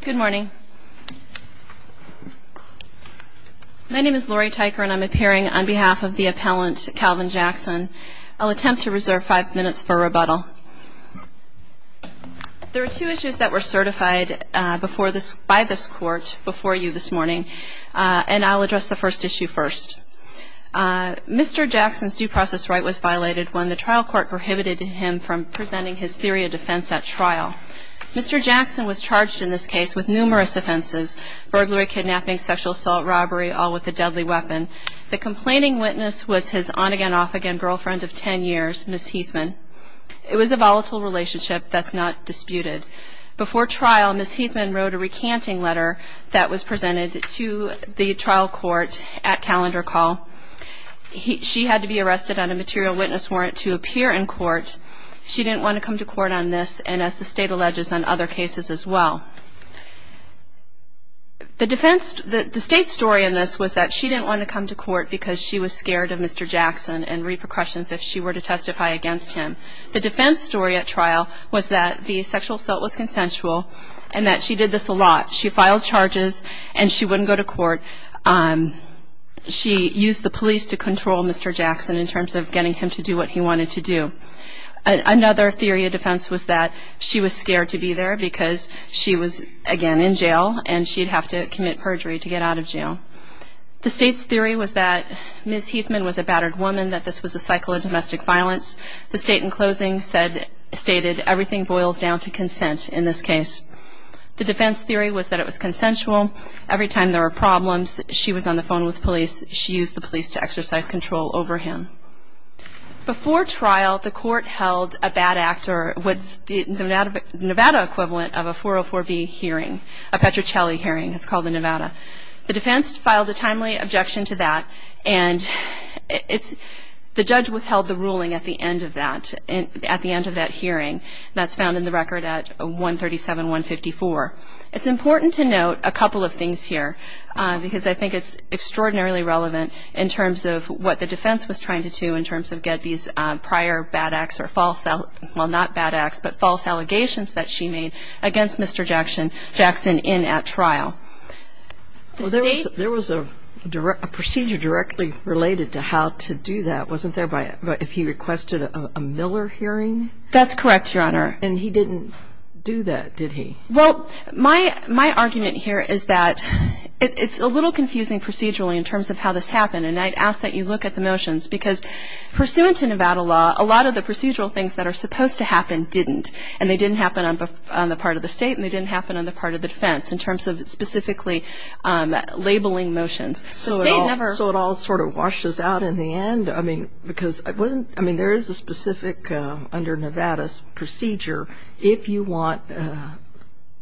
Good morning. My name is Laurie Tyker and I'm appearing on behalf of the appellant Calvin Jackson. I'll attempt to reserve five minutes for rebuttal. There are two issues that were certified before this by this court before you this morning and I'll address the first issue first. Mr. Jackson's due process right was violated when the trial court prohibited him from presenting his theory of defense at trial. Mr. Jackson was charged in this case with numerous offenses, burglary, kidnapping, sexual assault, robbery, all with a deadly weapon. The complaining witness was his on-again, off-again girlfriend of ten years, Ms. Heathman. It was a volatile relationship that's not disputed. Before trial, Ms. Heathman wrote a recanting letter that was presented to the trial court at calendar call. She had to be arrested on a material witness warrant to appear in court. She didn't want to come to court on this and as the state alleges on other cases as well. The defense, the state story in this was that she didn't want to come to court because she was scared of Mr. Jackson and repercussions if she were to testify against him. The defense story at trial was that the sexual assault was consensual and that she did this a lot. She filed charges and she wouldn't go to court. She used the police to control Mr. Jackson and that's what she wanted to do. Another theory of defense was that she was scared to be there because she was again in jail and she'd have to commit perjury to get out of jail. The state's theory was that Ms. Heathman was a battered woman, that this was a cycle of domestic violence. The state in closing said, stated everything boils down to consent in this case. The defense theory was that it was consensual. Every time there were problems, she was on the phone with police. She used the police to exercise control over him. Before the trial, the court held a bad act or what's the Nevada equivalent of a 404B hearing, a Petrocelli hearing, it's called in Nevada. The defense filed a timely objection to that and it's, the judge withheld the ruling at the end of that, at the end of that hearing. That's found in the record at 137-154. It's important to note a couple of things here because I think it's extraordinarily relevant in terms of what the defense was trying to do in terms of get these prior bad acts or false, well, not bad acts, but false allegations that she made against Mr. Jackson in at trial. There was a procedure directly related to how to do that, wasn't there, if he requested a Miller hearing? That's correct, Your Honor. And he didn't do that, did he? Well, my argument here is that it's a little confusing procedurally in terms of how this happened and I'd ask that you look at the motions because pursuant to Nevada law, a lot of the procedural things that are supposed to happen didn't and they didn't happen on the part of the state and they didn't happen on the part of the defense in terms of specifically labeling motions. So it all sort of washes out in the end, I mean, because it wasn't, I mean, there is a specific, under Nevada's procedure, if you want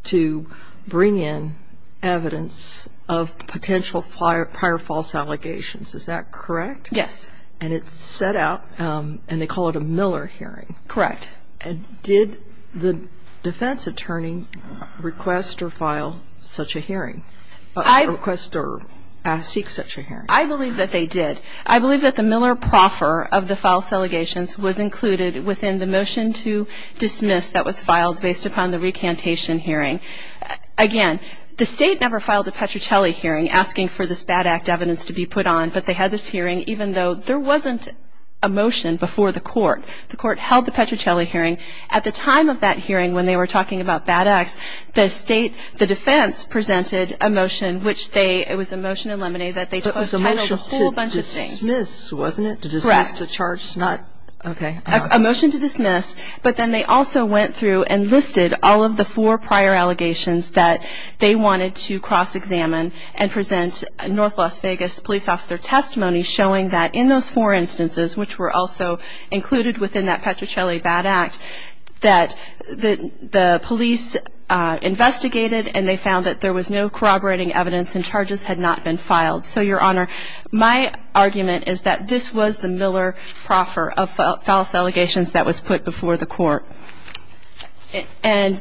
to bring in evidence of potential prior false allegations, is that correct? Yes. And it's set out and they call it a Miller hearing. Correct. And did the defense attorney request or file such a hearing, request or seek such a hearing? I believe that they did. I believe that the Miller proffer of the false allegations was included within the motion to dismiss that was filed based upon the recantation hearing. Again, the state never filed a Petrucelli hearing asking for this bad act evidence to be put on, but they had this hearing, even though there wasn't a motion before the court, the court held the Petrucelli hearing. At the time of that hearing, when they were talking about bad acts, the state, the defense presented a motion, which they, it was a motion in Lemonade that they titled a whole bunch of things. It was a motion to dismiss, wasn't it? To dismiss the charge, not, okay. A motion to dismiss, but then they also went through and listed all of the four police officer testimonies showing that in those four instances, which were also included within that Petrucelli bad act, that the police investigated and they found that there was no corroborating evidence and charges had not been filed. So your honor, my argument is that this was the Miller proffer of false allegations that was put before the court. And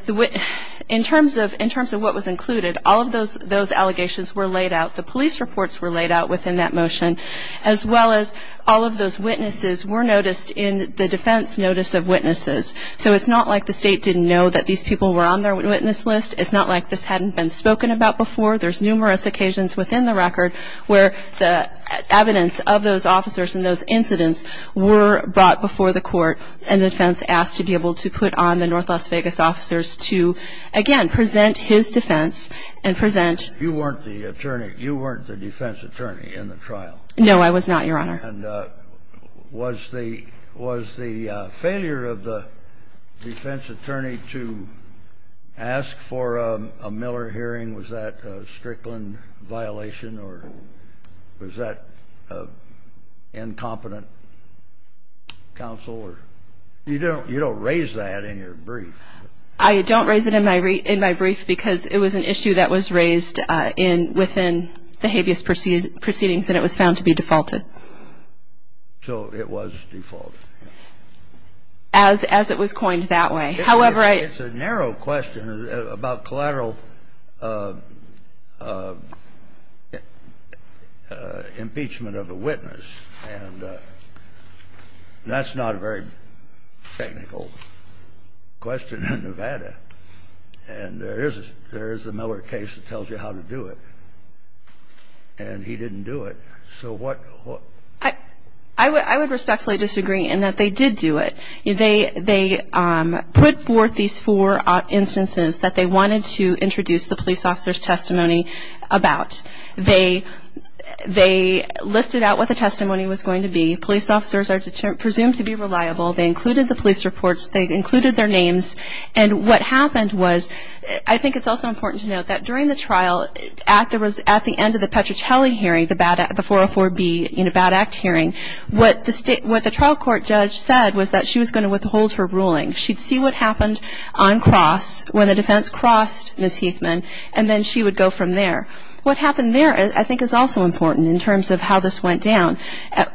in terms of, in terms of what was included, all of those, those allegations were laid out. The police reports were laid out within that motion, as well as all of those witnesses were noticed in the defense notice of witnesses. So it's not like the state didn't know that these people were on their witness list. It's not like this hadn't been spoken about before. There's numerous occasions within the record where the evidence of those officers and those incidents were brought before the court and the defense asked to be able to put on the North Las Vegas officers to again, present his defense and present. You weren't the attorney. You weren't the defense attorney in the trial. No, I was not your honor. And, uh, was the, was the failure of the defense attorney to ask for a Miller hearing, was that a Strickland violation or was that a incompetent counselor? You don't, you don't raise that in your brief. I don't raise it in my, in my brief because it was an issue that was raised, uh, in, within the habeas proceedings and it was found to be defaulted. So it was default. As, as it was coined that way. However, I. It's a narrow question about collateral, uh, uh, uh, impeachment of a witness. And, uh, that's not a very technical question in Nevada. And there is, there is a Miller case that tells you how to do it and he didn't do it. So what, what. I would, I would respectfully disagree in that they did do it. They, they, um, put forth these four instances that they wanted to introduce the police officer's testimony about. They, they listed out what the testimony was going to be. Police officers are presumed to be reliable. They included the police reports. They included their names. And what happened was, I think it's also important to note that during the trial at the, at the end of the Petrucelli hearing, the bad, the 404B, you know, bad act hearing, what the state, what the trial court judge said was that she was going to withhold her ruling. She'd see what happened on cross when the defense crossed Ms. Heathman, and then she would go from there. What happened there is, I think is also important in terms of how this went down.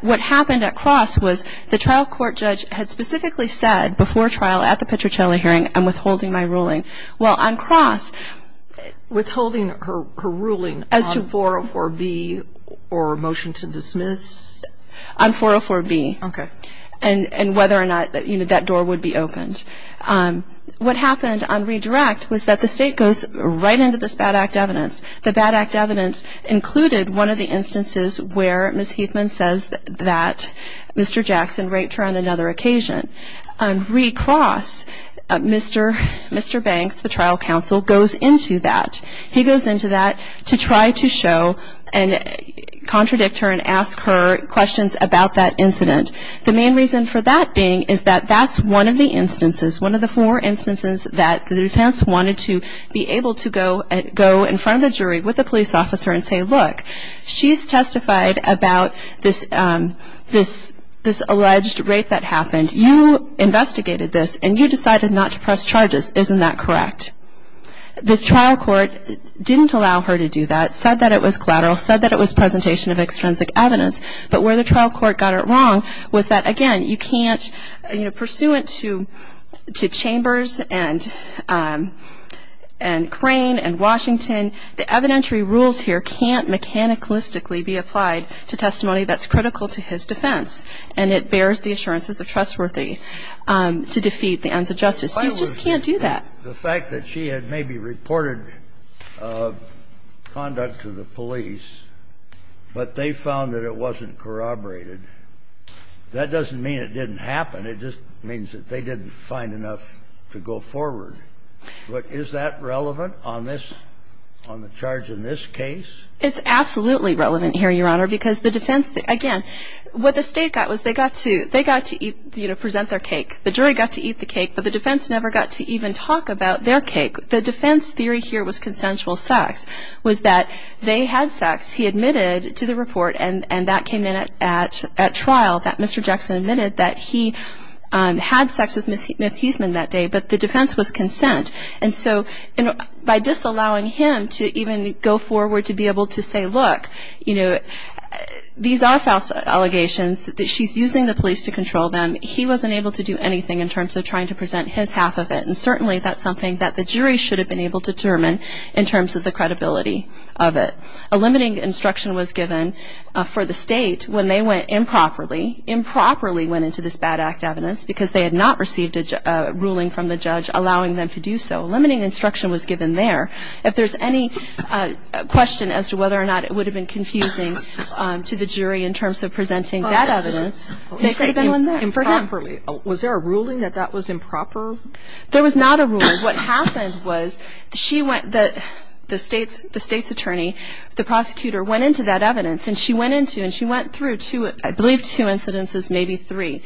What happened at cross was the trial court judge had specifically said before trial at the Petrucelli hearing, I'm withholding my ruling. Well, on cross. Withholding her, her ruling as to 404B or motion to dismiss? On 404B. Okay. And, and whether or not that, you know, that door would be opened. Um, what happened on redirect was that the state goes right into this bad act evidence. The bad act evidence included one of the instances where Ms. Heathman says that Mr. Jackson raped her on another occasion. On recross, Mr. Mr. Banks, the trial counsel goes into that. He goes into that to try to show and contradict her and ask her questions about that incident. The main reason for that being is that that's one of the instances, one of the more instances that the defense wanted to be able to go and go in front of the jury with the police officer and say, look, she's testified about this, um, this, this alleged rape that happened. You investigated this and you decided not to press charges. Isn't that correct? The trial court didn't allow her to do that. Said that it was collateral, said that it was presentation of extrinsic evidence, but where the trial court got it wrong was that again, you can't, you know, pursuant to, to chambers and, um, and Crane and Washington, the evidentiary rules here can't mechanicalistically be applied to testimony that's critical to his defense. And it bears the assurances of trustworthy, um, to defeat the ends of justice. You just can't do that. The fact that she had maybe reported conduct to the police, but they found that it wasn't corroborated. That doesn't mean it didn't happen. It just means that they didn't find enough to go forward. But is that relevant on this, on the charge in this case? It's absolutely relevant here, Your Honor, because the defense, again, what the state got was they got to, they got to eat, you know, present their cake. The jury got to eat the cake, but the defense never got to even talk about their cake. The defense theory here was consensual sex, was that they had sex. He admitted to the report and, and that came in at, at trial that Mr. Jackson admitted that he, um, had sex with Ms. Hiesman that day, but the defense was consent. And so by disallowing him to even go forward to be able to say, look, you know, these are false allegations that she's using the police to control them. He wasn't able to do anything in terms of trying to present his half of it. And certainly that's something that the jury should have been able to determine in terms of the credibility of it. A limiting instruction was given for the state when they went improperly, improperly went into this bad act evidence because they had not received a ruling from the judge, allowing them to do so. Limiting instruction was given there. If there's any question as to whether or not it would have been confusing, um, to the jury in terms of presenting that evidence, they could have been on there. Improperly, was there a ruling that that was improper? There was not a rule. What happened was she went, the state's, the state's attorney, the prosecutor gave two incidences, maybe three.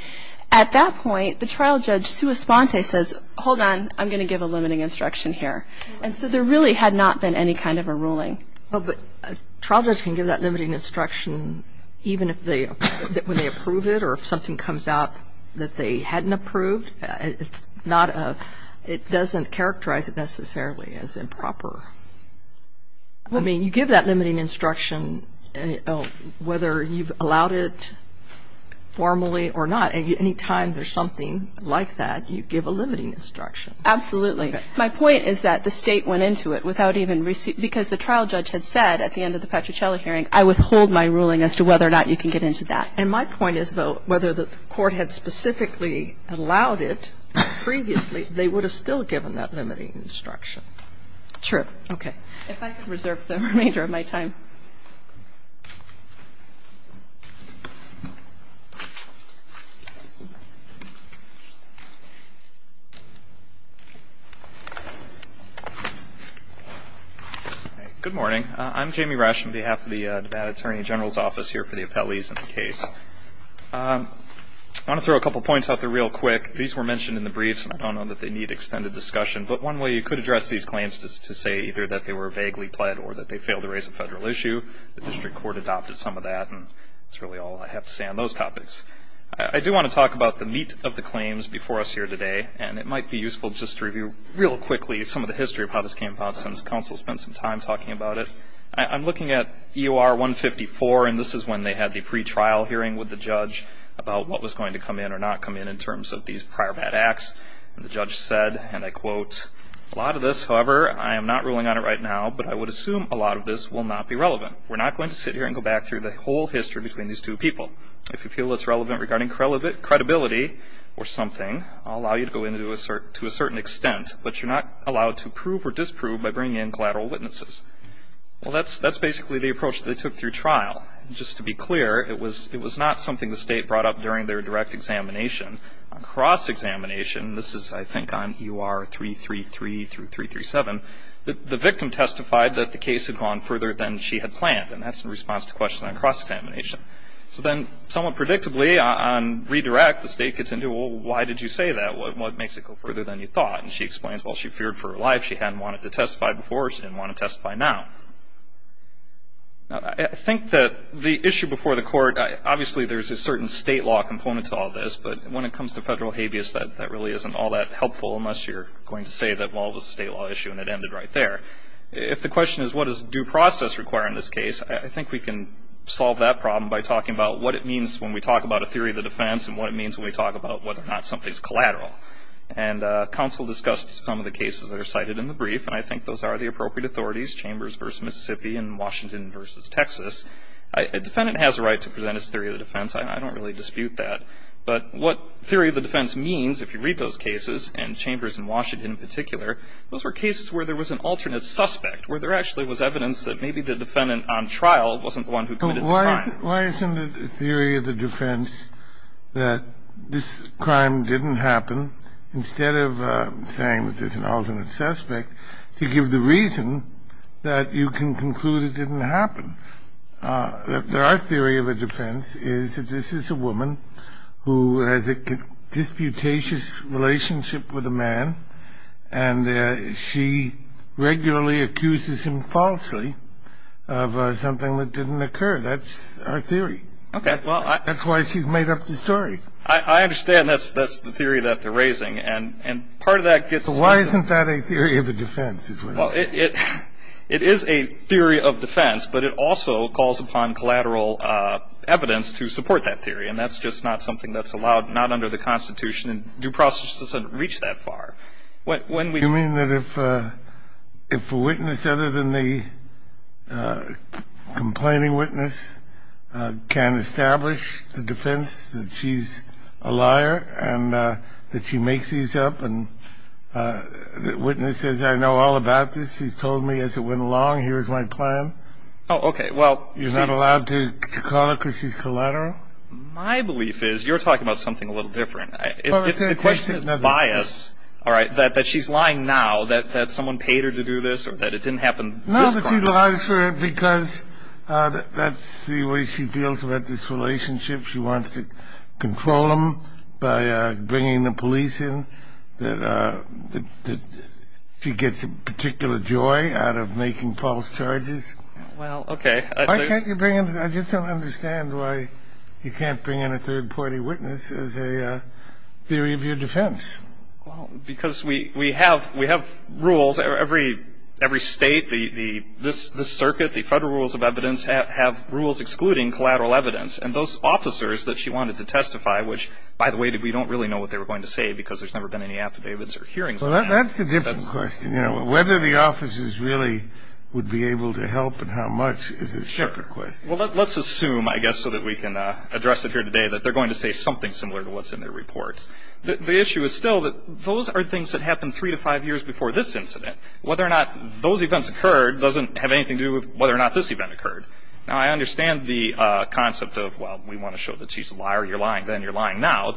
At that point, the trial judge, sua sponte, says, hold on. I'm going to give a limiting instruction here. And so there really had not been any kind of a ruling. Oh, but a trial judge can give that limiting instruction, even if they, when they approve it, or if something comes out that they hadn't approved, it's not a, it doesn't characterize it necessarily as improper. I mean, you give that limiting instruction, whether you've allowed it formally or not, and any time there's something like that, you give a limiting instruction. Absolutely. My point is that the State went into it without even receiving, because the trial judge had said at the end of the Petruccilli hearing, I withhold my ruling as to whether or not you can get into that. And my point is, though, whether the court had specifically allowed it previously, they would have still given that limiting instruction. True. Okay. If I could reserve the remainder of my time. Good morning. I'm Jamie Rush on behalf of the Nevada Attorney General's Office here for the appellees in the case. I want to throw a couple of points out there real quick. These were mentioned in the briefs, and I don't know that they need extended discussion. But one way you could address these claims is to say either that they were vaguely pled or that they failed to raise a federal issue. The district court adopted some of that, and that's really all I have to say on those topics. I do want to talk about the meat of the claims before us here today, and it might be useful just to review real quickly some of the history of how this came about since counsel spent some time talking about it. I'm looking at EOR 154, and this is when they had the pretrial hearing with the judge about what was going to come in or not come in in terms of these prior bad acts. The judge said, and I quote, a lot of this, however, I am not ruling on it right now, but I would assume a lot of this will not be relevant. We're not going to sit here and go back through the whole history between these two people. If you feel it's relevant regarding credibility or something, I'll allow you to go in to a certain extent, but you're not allowed to prove or disprove by bringing in collateral witnesses. Well, that's basically the approach that they took through trial. Just to be clear, it was not something the state brought up during their direct examination. On cross-examination, this is, I think, on EOR 333 through 337, the victim testified that the case had gone further than she had planned, and that's in response to the question on cross-examination. So then, somewhat predictably, on redirect, the state gets into, well, why did you say that? What makes it go further than you thought? And she explains, well, she feared for her life. She hadn't wanted to testify before. She didn't want to testify now. Now, I think that the issue before the court, obviously, there's a certain state law component to all of this, but when it comes to federal habeas, that really isn't all that helpful unless you're going to say that, well, it was a state law issue and it ended right there. If the question is, what does due process require in this case, I think we can solve that problem by talking about what it means when we talk about a theory of the defense and what it means when we talk about whether or not something's collateral. And counsel discussed some of the cases that are cited in the brief, and I think those are the appropriate authorities, Chambers versus Mississippi and Washington versus Texas. A defendant has a right to present his theory of the defense. I don't really dispute that. But what theory of the defense means, if you read those cases, and Chambers and Washington in particular, those were cases where there was an alternate suspect, where there actually was evidence that maybe the defendant on trial wasn't the one who committed the crime. Kennedy, but why isn't it a theory of the defense that this crime didn't happen instead of saying that there's an alternate suspect to give the reason that you can conclude it didn't happen? Our theory of the defense is that this is a woman who has a disputatious relationship with a man, and she regularly accuses him falsely of something that didn't occur. That's our theory. That's why she's made up the story. I understand that's the theory that they're raising, and part of that gets Why isn't that a theory of the defense? Well, it is a theory of defense, but it also calls upon collateral evidence to support that theory, and that's just not something that's allowed, not under the Constitution, and due process doesn't reach that far. You mean that if a witness other than the complaining witness can establish the defense that she's a liar and that she makes these up, and witnesses I know all about this, she's told me as it went along, here's my plan. Oh, okay. You're not allowed to call her because she's collateral? My belief is, you're talking about something a little different. The question is bias, all right, that she's lying now that someone paid her to do this or that it didn't happen this crime. No, that she lies for it because that's the way she feels about this relationship. She wants to control them by bringing the police in, that she gets a particular joy out of making false charges. Well, okay. I just don't understand why you can't bring in a third-party witness as a theory of your defense. Well, because we have rules. Every state, this circuit, the federal rules of evidence have rules excluding collateral evidence, and those officers that she wanted to testify, which, by the way, we don't really know what they were going to say because there's never been any affidavits or hearings. Well, that's a different question, whether the officers really would be able to help and how much is a separate question. Well, let's assume, I guess, so that we can address it here today, that they're going to say something similar to what's in their reports. The issue is still that those are things that happened three to five years before this incident. Whether or not those events occurred doesn't have anything to do with whether or not this event occurred. Now, I understand the concept of, well, we want to show that she's a liar, you're lying then, you're lying now,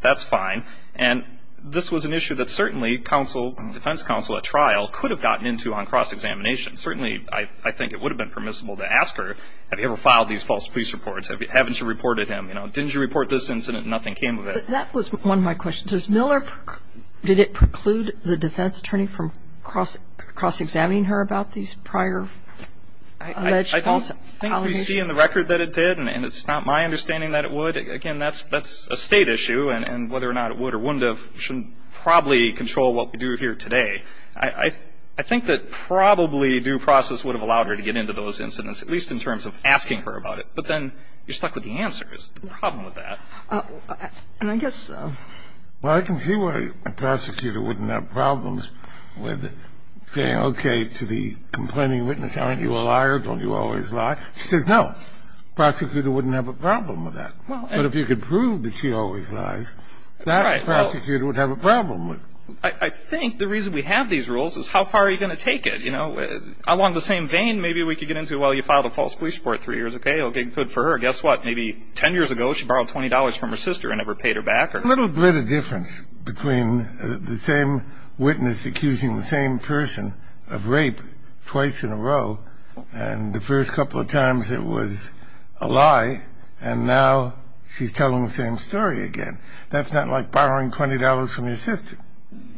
that's fine. And this was an issue that certainly defense counsel at trial could have gotten into on cross-examination. Certainly, I think it would have been permissible to ask her, have you ever filed these false police reports? Haven't you reported him? You know, didn't you report this incident and nothing came of it? That was one of my questions. Does Miller, did it preclude the defense attorney from cross-examining her about these prior alleged false allegations? I don't think we see in the record that it did, and it's not my understanding that it would. Again, that's a State issue, and whether or not it would or wouldn't have shouldn't probably control what we do here today. I think that probably due process would have allowed her to get into those incidents, at least in terms of asking her about it. But then you're stuck with the answer is the problem with that. And I guess so. Well, I can see why a prosecutor wouldn't have problems with saying, okay, to the complaining witness, aren't you a liar, don't you always lie? She says no. Prosecutor wouldn't have a problem with that. But if you could prove that she always lies, that prosecutor would have a problem with it. I think the reason we have these rules is how far are you going to take it? You know, along the same vein, maybe we could get into, well, you filed a false police report three years ago. It'll get good for her. Guess what? Maybe 10 years ago, she borrowed $20 from her sister and never paid her back. A little bit of difference between the same witness accusing the same person of rape twice in a row, and the first couple of times it was a lie, and now she's telling the same story again. That's not like borrowing $20 from your sister.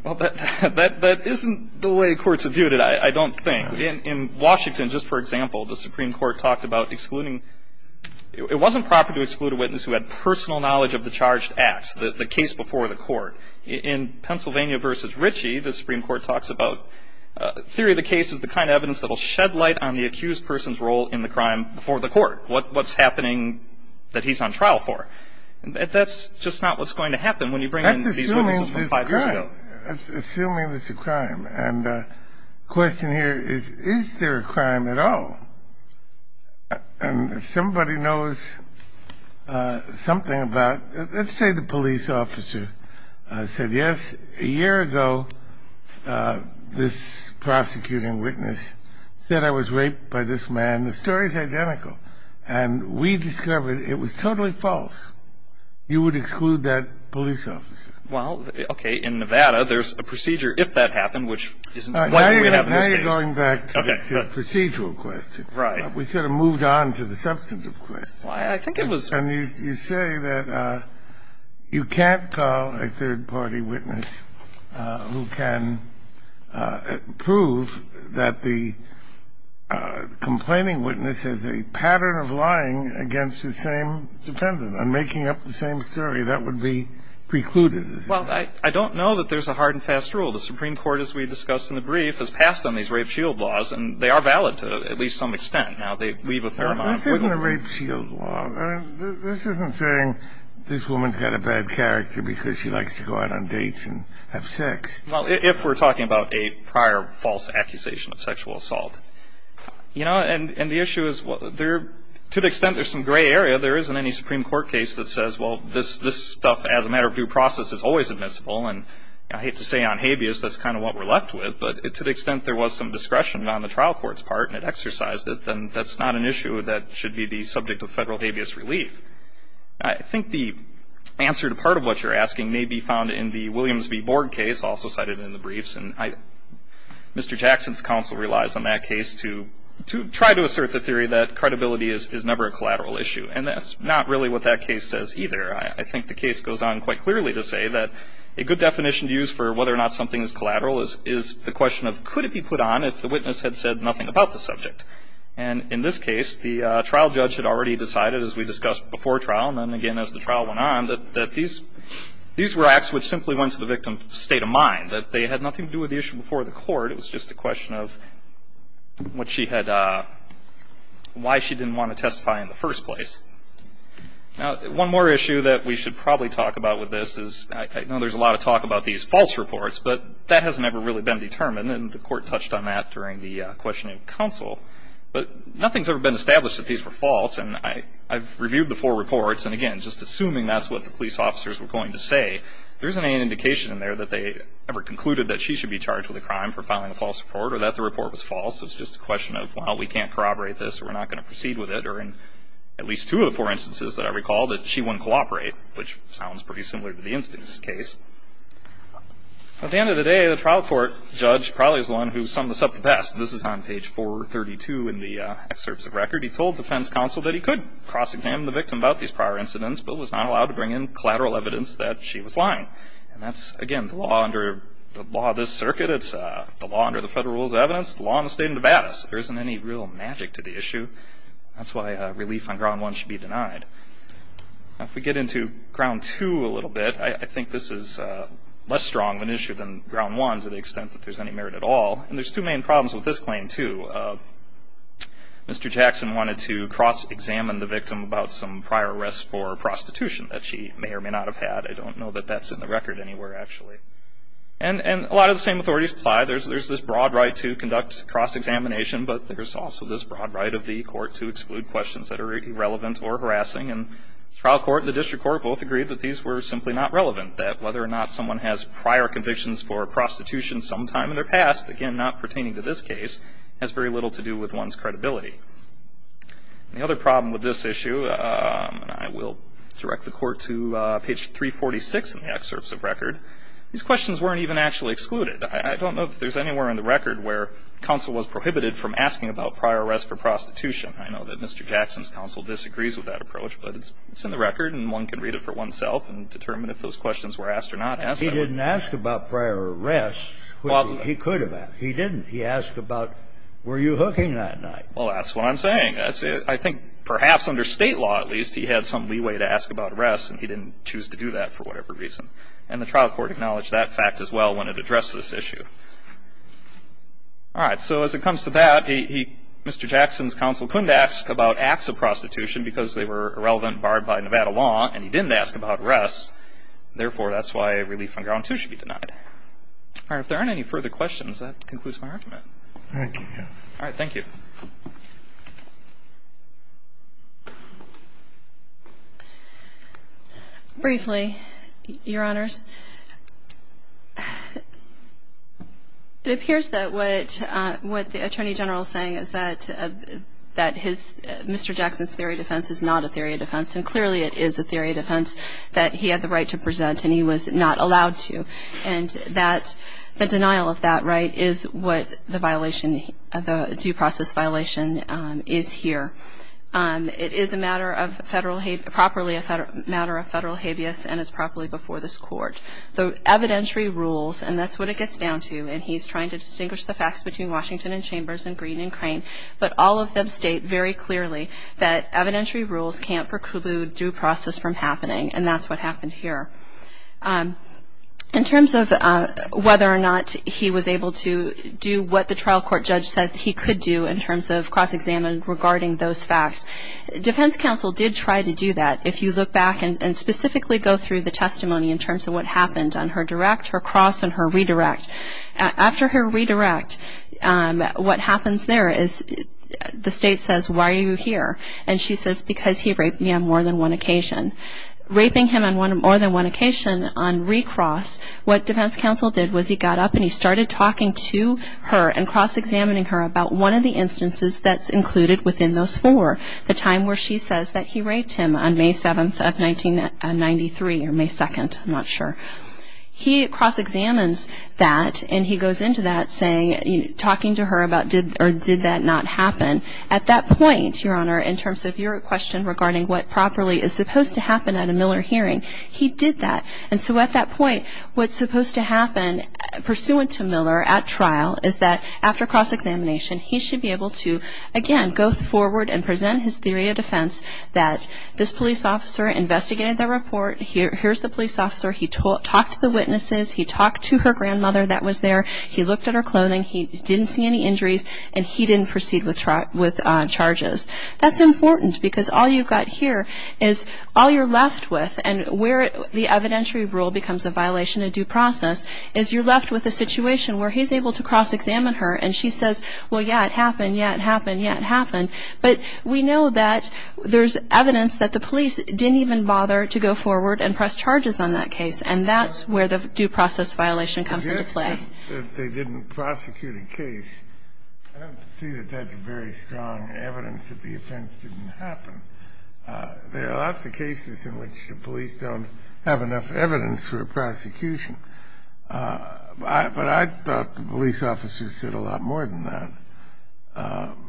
Well, that isn't the way courts have viewed it, I don't think. In Washington, just for example, the Supreme Court talked about excluding It wasn't proper to exclude a witness who had personal knowledge of the charged acts, the case before the court. In Pennsylvania v. Ritchie, the Supreme Court talks about theory of the case is the kind of evidence that will shed light on the accused person's role in the crime before the court, what's happening that he's on trial for. That's just not what's going to happen when you bring in these witnesses from five years ago. That's assuming it's a crime, and the question here is, is there a crime at all? And if somebody knows something about, let's say the police officer said, yes, a year ago, this prosecuting witness said I was raped by this man. The story's identical. And we discovered it was totally false. You would exclude that police officer. Well, okay, in Nevada, there's a procedure if that happened, which isn't likely to happen in this case. Now you're going back to the procedural question. We sort of moved on to the substantive question. I think it was- And you say that you can't call a third-party witness who can prove that the complaining witness has a pattern of lying against the same defendant and making up the same story. That would be precluded. Well, I don't know that there's a hard and fast rule. The Supreme Court, as we discussed in the brief, has passed on these rape shield laws, and they are valid to at least some extent. Now, they leave a fair amount of wiggle room. This isn't a rape shield law. This isn't saying this woman's got a bad character because she likes to go out on dates and have sex. Well, if we're talking about a prior false accusation of sexual assault. You know, and the issue is, to the extent there's some gray area, there isn't any Supreme Court case that says, well, this stuff, as a matter of due process, is always admissible. And I hate to say on habeas, that's kind of what we're left with. But to the extent there was some discretion on the trial court's part, and it exercised it, then that's not an issue that should be the subject of federal habeas relief. I think the answer to part of what you're asking may be found in the Williams v. Borg case, also cited in the briefs. And Mr. Jackson's counsel relies on that case to try to assert the theory that credibility is never a collateral issue. And that's not really what that case says either. I think the case goes on quite clearly to say that a good definition to use for whether or not something is collateral is the question of, could it be put on if the witness had said nothing about the subject? And in this case, the trial judge had already decided, as we discussed before trial, and then again as the trial went on, that these were acts which simply went to the victim's state of mind, that they had nothing to do with the issue before the court. It was just a question of why she didn't want to testify in the first place. Now, one more issue that we should probably talk about with this is, I know there's a lot of talk about these false reports, but that has never really been determined, and the court touched on that during the questioning of counsel. But nothing's ever been established that these were false. And I've reviewed the four reports, and again, just assuming that's what the police officers were going to say. There isn't any indication in there that they ever concluded that she should be charged with a crime for filing a false report, or that the report was false. It's just a question of, well, we can't corroborate this. We're not going to proceed with it. Or in at least two of the four instances that I recall, that she wouldn't cooperate, which sounds pretty similar to the instance case. At the end of the day, the trial court judge probably is the one who summed this up the best. This is on page 432 in the excerpts of record. He told defense counsel that he could cross-examine the victim about these prior incidents, but was not allowed to bring in collateral evidence that she was lying. And that's, again, the law under the law of this circuit. It's the law under the federal rules of evidence, the law in the state of Nevada. So there isn't any real magic to the issue. That's why relief on ground one should be denied. Now, if we get into ground two a little bit, I think this is less strong of an issue than ground one to the extent that there's any merit at all. And there's two main problems with this claim, too. Mr. Jackson wanted to cross-examine the victim about some prior arrests for prostitution that she may or may not have had. I don't know that that's in the record anywhere, actually. And a lot of the same authorities apply. There's this broad right to conduct cross-examination, but there's also this broad right of the court to exclude questions that are irrelevant or harassing. And the trial court and the district court both agreed that these were simply not relevant, that whether or not someone has prior convictions for prostitution sometime in their past, again, not pertaining to this case, has very little to do with one's credibility. And the other problem with this issue, and I will direct the court to page 346 in the excerpts of record, these questions weren't even actually excluded. I don't know if there's anywhere in the record where counsel was prohibited from asking about prior arrests for prostitution. I know that Mr. Jackson's counsel disagrees with that approach, but it's in the record and one can read it for oneself and determine if those questions were asked or not asked. He didn't ask about prior arrests, which he could have asked. He didn't. He asked about were you hooking that night. Well, that's what I'm saying. I think perhaps under State law, at least, he had some leeway to ask about arrests, and he didn't choose to do that for whatever reason. And the trial court acknowledged that fact as well when it addressed this issue. All right. So as it comes to that, Mr. Jackson's counsel couldn't ask about acts of prostitution because they were irrelevant, barred by Nevada law, and he didn't ask about arrests. Therefore, that's why a relief on ground two should be denied. All right. If there aren't any further questions, that concludes my argument. All right. Thank you. Briefly, Your Honors, it appears that what the Attorney General is saying is that Mr. Jackson's theory of defense is not a theory of defense, and clearly it is a theory of defense that he had the right to present and he was not allowed to. And the denial of that right is what the violation, the due process violation is here. It is a matter of federal, properly a matter of federal habeas and is properly before this court. The evidentiary rules, and that's what it gets down to, and he's trying to distinguish the facts between Washington and Chambers and Green and Crane, but all of them state very clearly that evidentiary rules can't preclude due process from happening, and that's what happened here. In terms of whether or not he was able to do what the trial court judge said he could do in terms of cross-examined regarding those facts, defense counsel did try to do that. If you look back and specifically go through the testimony in terms of what happened on her direct, her cross, and her redirect. After her redirect, what happens there is the state says, why are you here? And she says, because he raped me on more than one occasion. Raping him on more than one occasion on recross, what defense counsel did was he got up and he started talking to her and cross-examining her about one of the instances that's included within those four. The time where she says that he raped him on May 7th of 1993, or May 2nd, I'm not sure. He cross-examines that, and he goes into that saying, talking to her about did, or did that not happen, at that point, your honor, in terms of your question regarding what properly is supposed to happen at a Miller hearing, he did that. And so at that point, what's supposed to happen pursuant to Miller at trial is that after cross-examination, he should be able to, again, go forward and present his theory of defense that this police officer investigated the report, here's the police officer, he talked to the witnesses, he talked to her grandmother that was there, he looked at her clothing, he didn't see any injuries, and he didn't proceed with charges. That's important, because all you've got here is all you're left with, and where the evidentiary rule becomes a violation of due process, is you're left with a situation where he's able to cross-examine her, and she says, well, yeah, it happened, yeah, it happened, yeah, it happened. But we know that there's evidence that the police didn't even bother to go forward and press charges on that case, and that's where the due process violation comes into play. I don't see that they didn't prosecute a case. I don't see that that's very strong evidence that the offense didn't happen. There are lots of cases in which the police don't have enough evidence for a prosecution. But I thought the police officer said a lot more than that.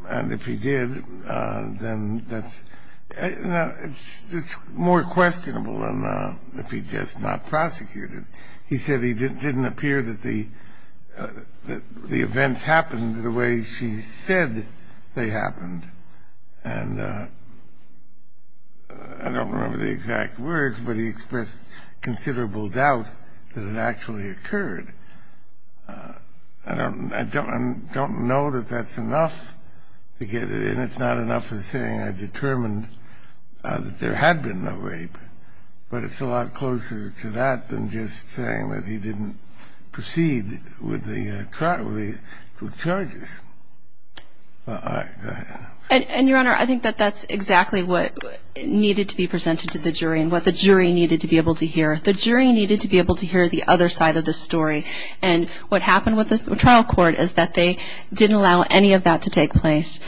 And if he did, then that's – it's more questionable than if he just not prosecuted. He said it didn't appear that the events happened the way she said they happened. And I don't remember the exact words, but he expressed considerable doubt that it actually occurred. I don't know that that's enough to get it in. It's not enough for saying I determined that there had been no rape. But it's a lot closer to that than just saying that he didn't proceed with the charges. All right, go ahead. And, Your Honor, I think that that's exactly what needed to be presented to the jury and what the jury needed to be able to hear. The jury needed to be able to hear the other side of the story. And what happened with the trial court is that they didn't allow any of that to take place.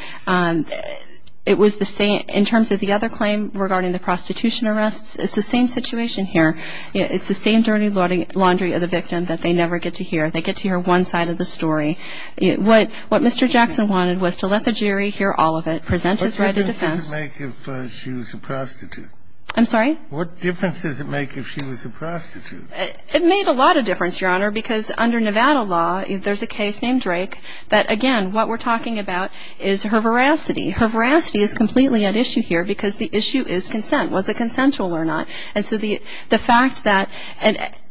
It was the same – in terms of the other claim regarding the prostitution arrests, it's the same situation here. It's the same dirty laundry of the victim that they never get to hear. They get to hear one side of the story. What Mr. Jackson wanted was to let the jury hear all of it, present his right of defense. What difference does it make if she was a prostitute? I'm sorry? What difference does it make if she was a prostitute? It made a lot of difference, Your Honor, because under Nevada law, there's a case named Drake that, again, what we're talking about is her veracity. Her veracity is completely at issue here because the issue is consent. Was it consensual or not? And so the fact that –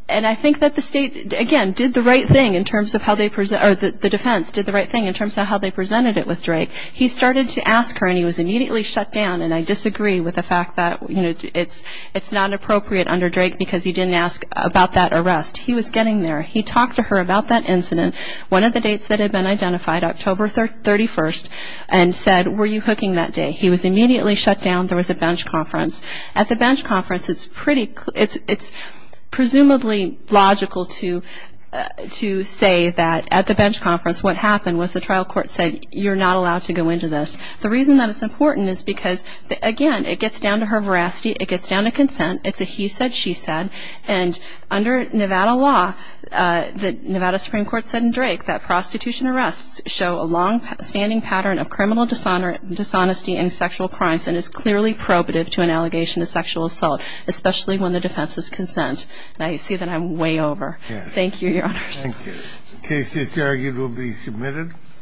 and I think that the state, again, did the right thing in terms of how they – or the defense did the right thing in terms of how they presented it with Drake. He started to ask her and he was immediately shut down. And I disagree with the fact that, you know, it's not appropriate under Drake because he didn't ask about that arrest. He was getting there. He talked to her about that incident. One of the dates that had been identified, October 31st, and said, were you hooking that day? He was immediately shut down. There was a bench conference. At the bench conference, it's pretty – it's presumably logical to say that at the bench conference, what happened was the trial court said, you're not allowed to go into this. The reason that it's important is because, again, it gets down to her veracity. It gets down to consent. It's a he said, she said. And under Nevada law, the Nevada Supreme Court said in Drake that prostitution arrests show a long-standing pattern of criminal dishonesty and sexual crimes and is clearly probative to an allegation of sexual assault, especially when the defense is consent. And I see that I'm way over. Thank you, Your Honors. Thank you. The case is argued will be submitted.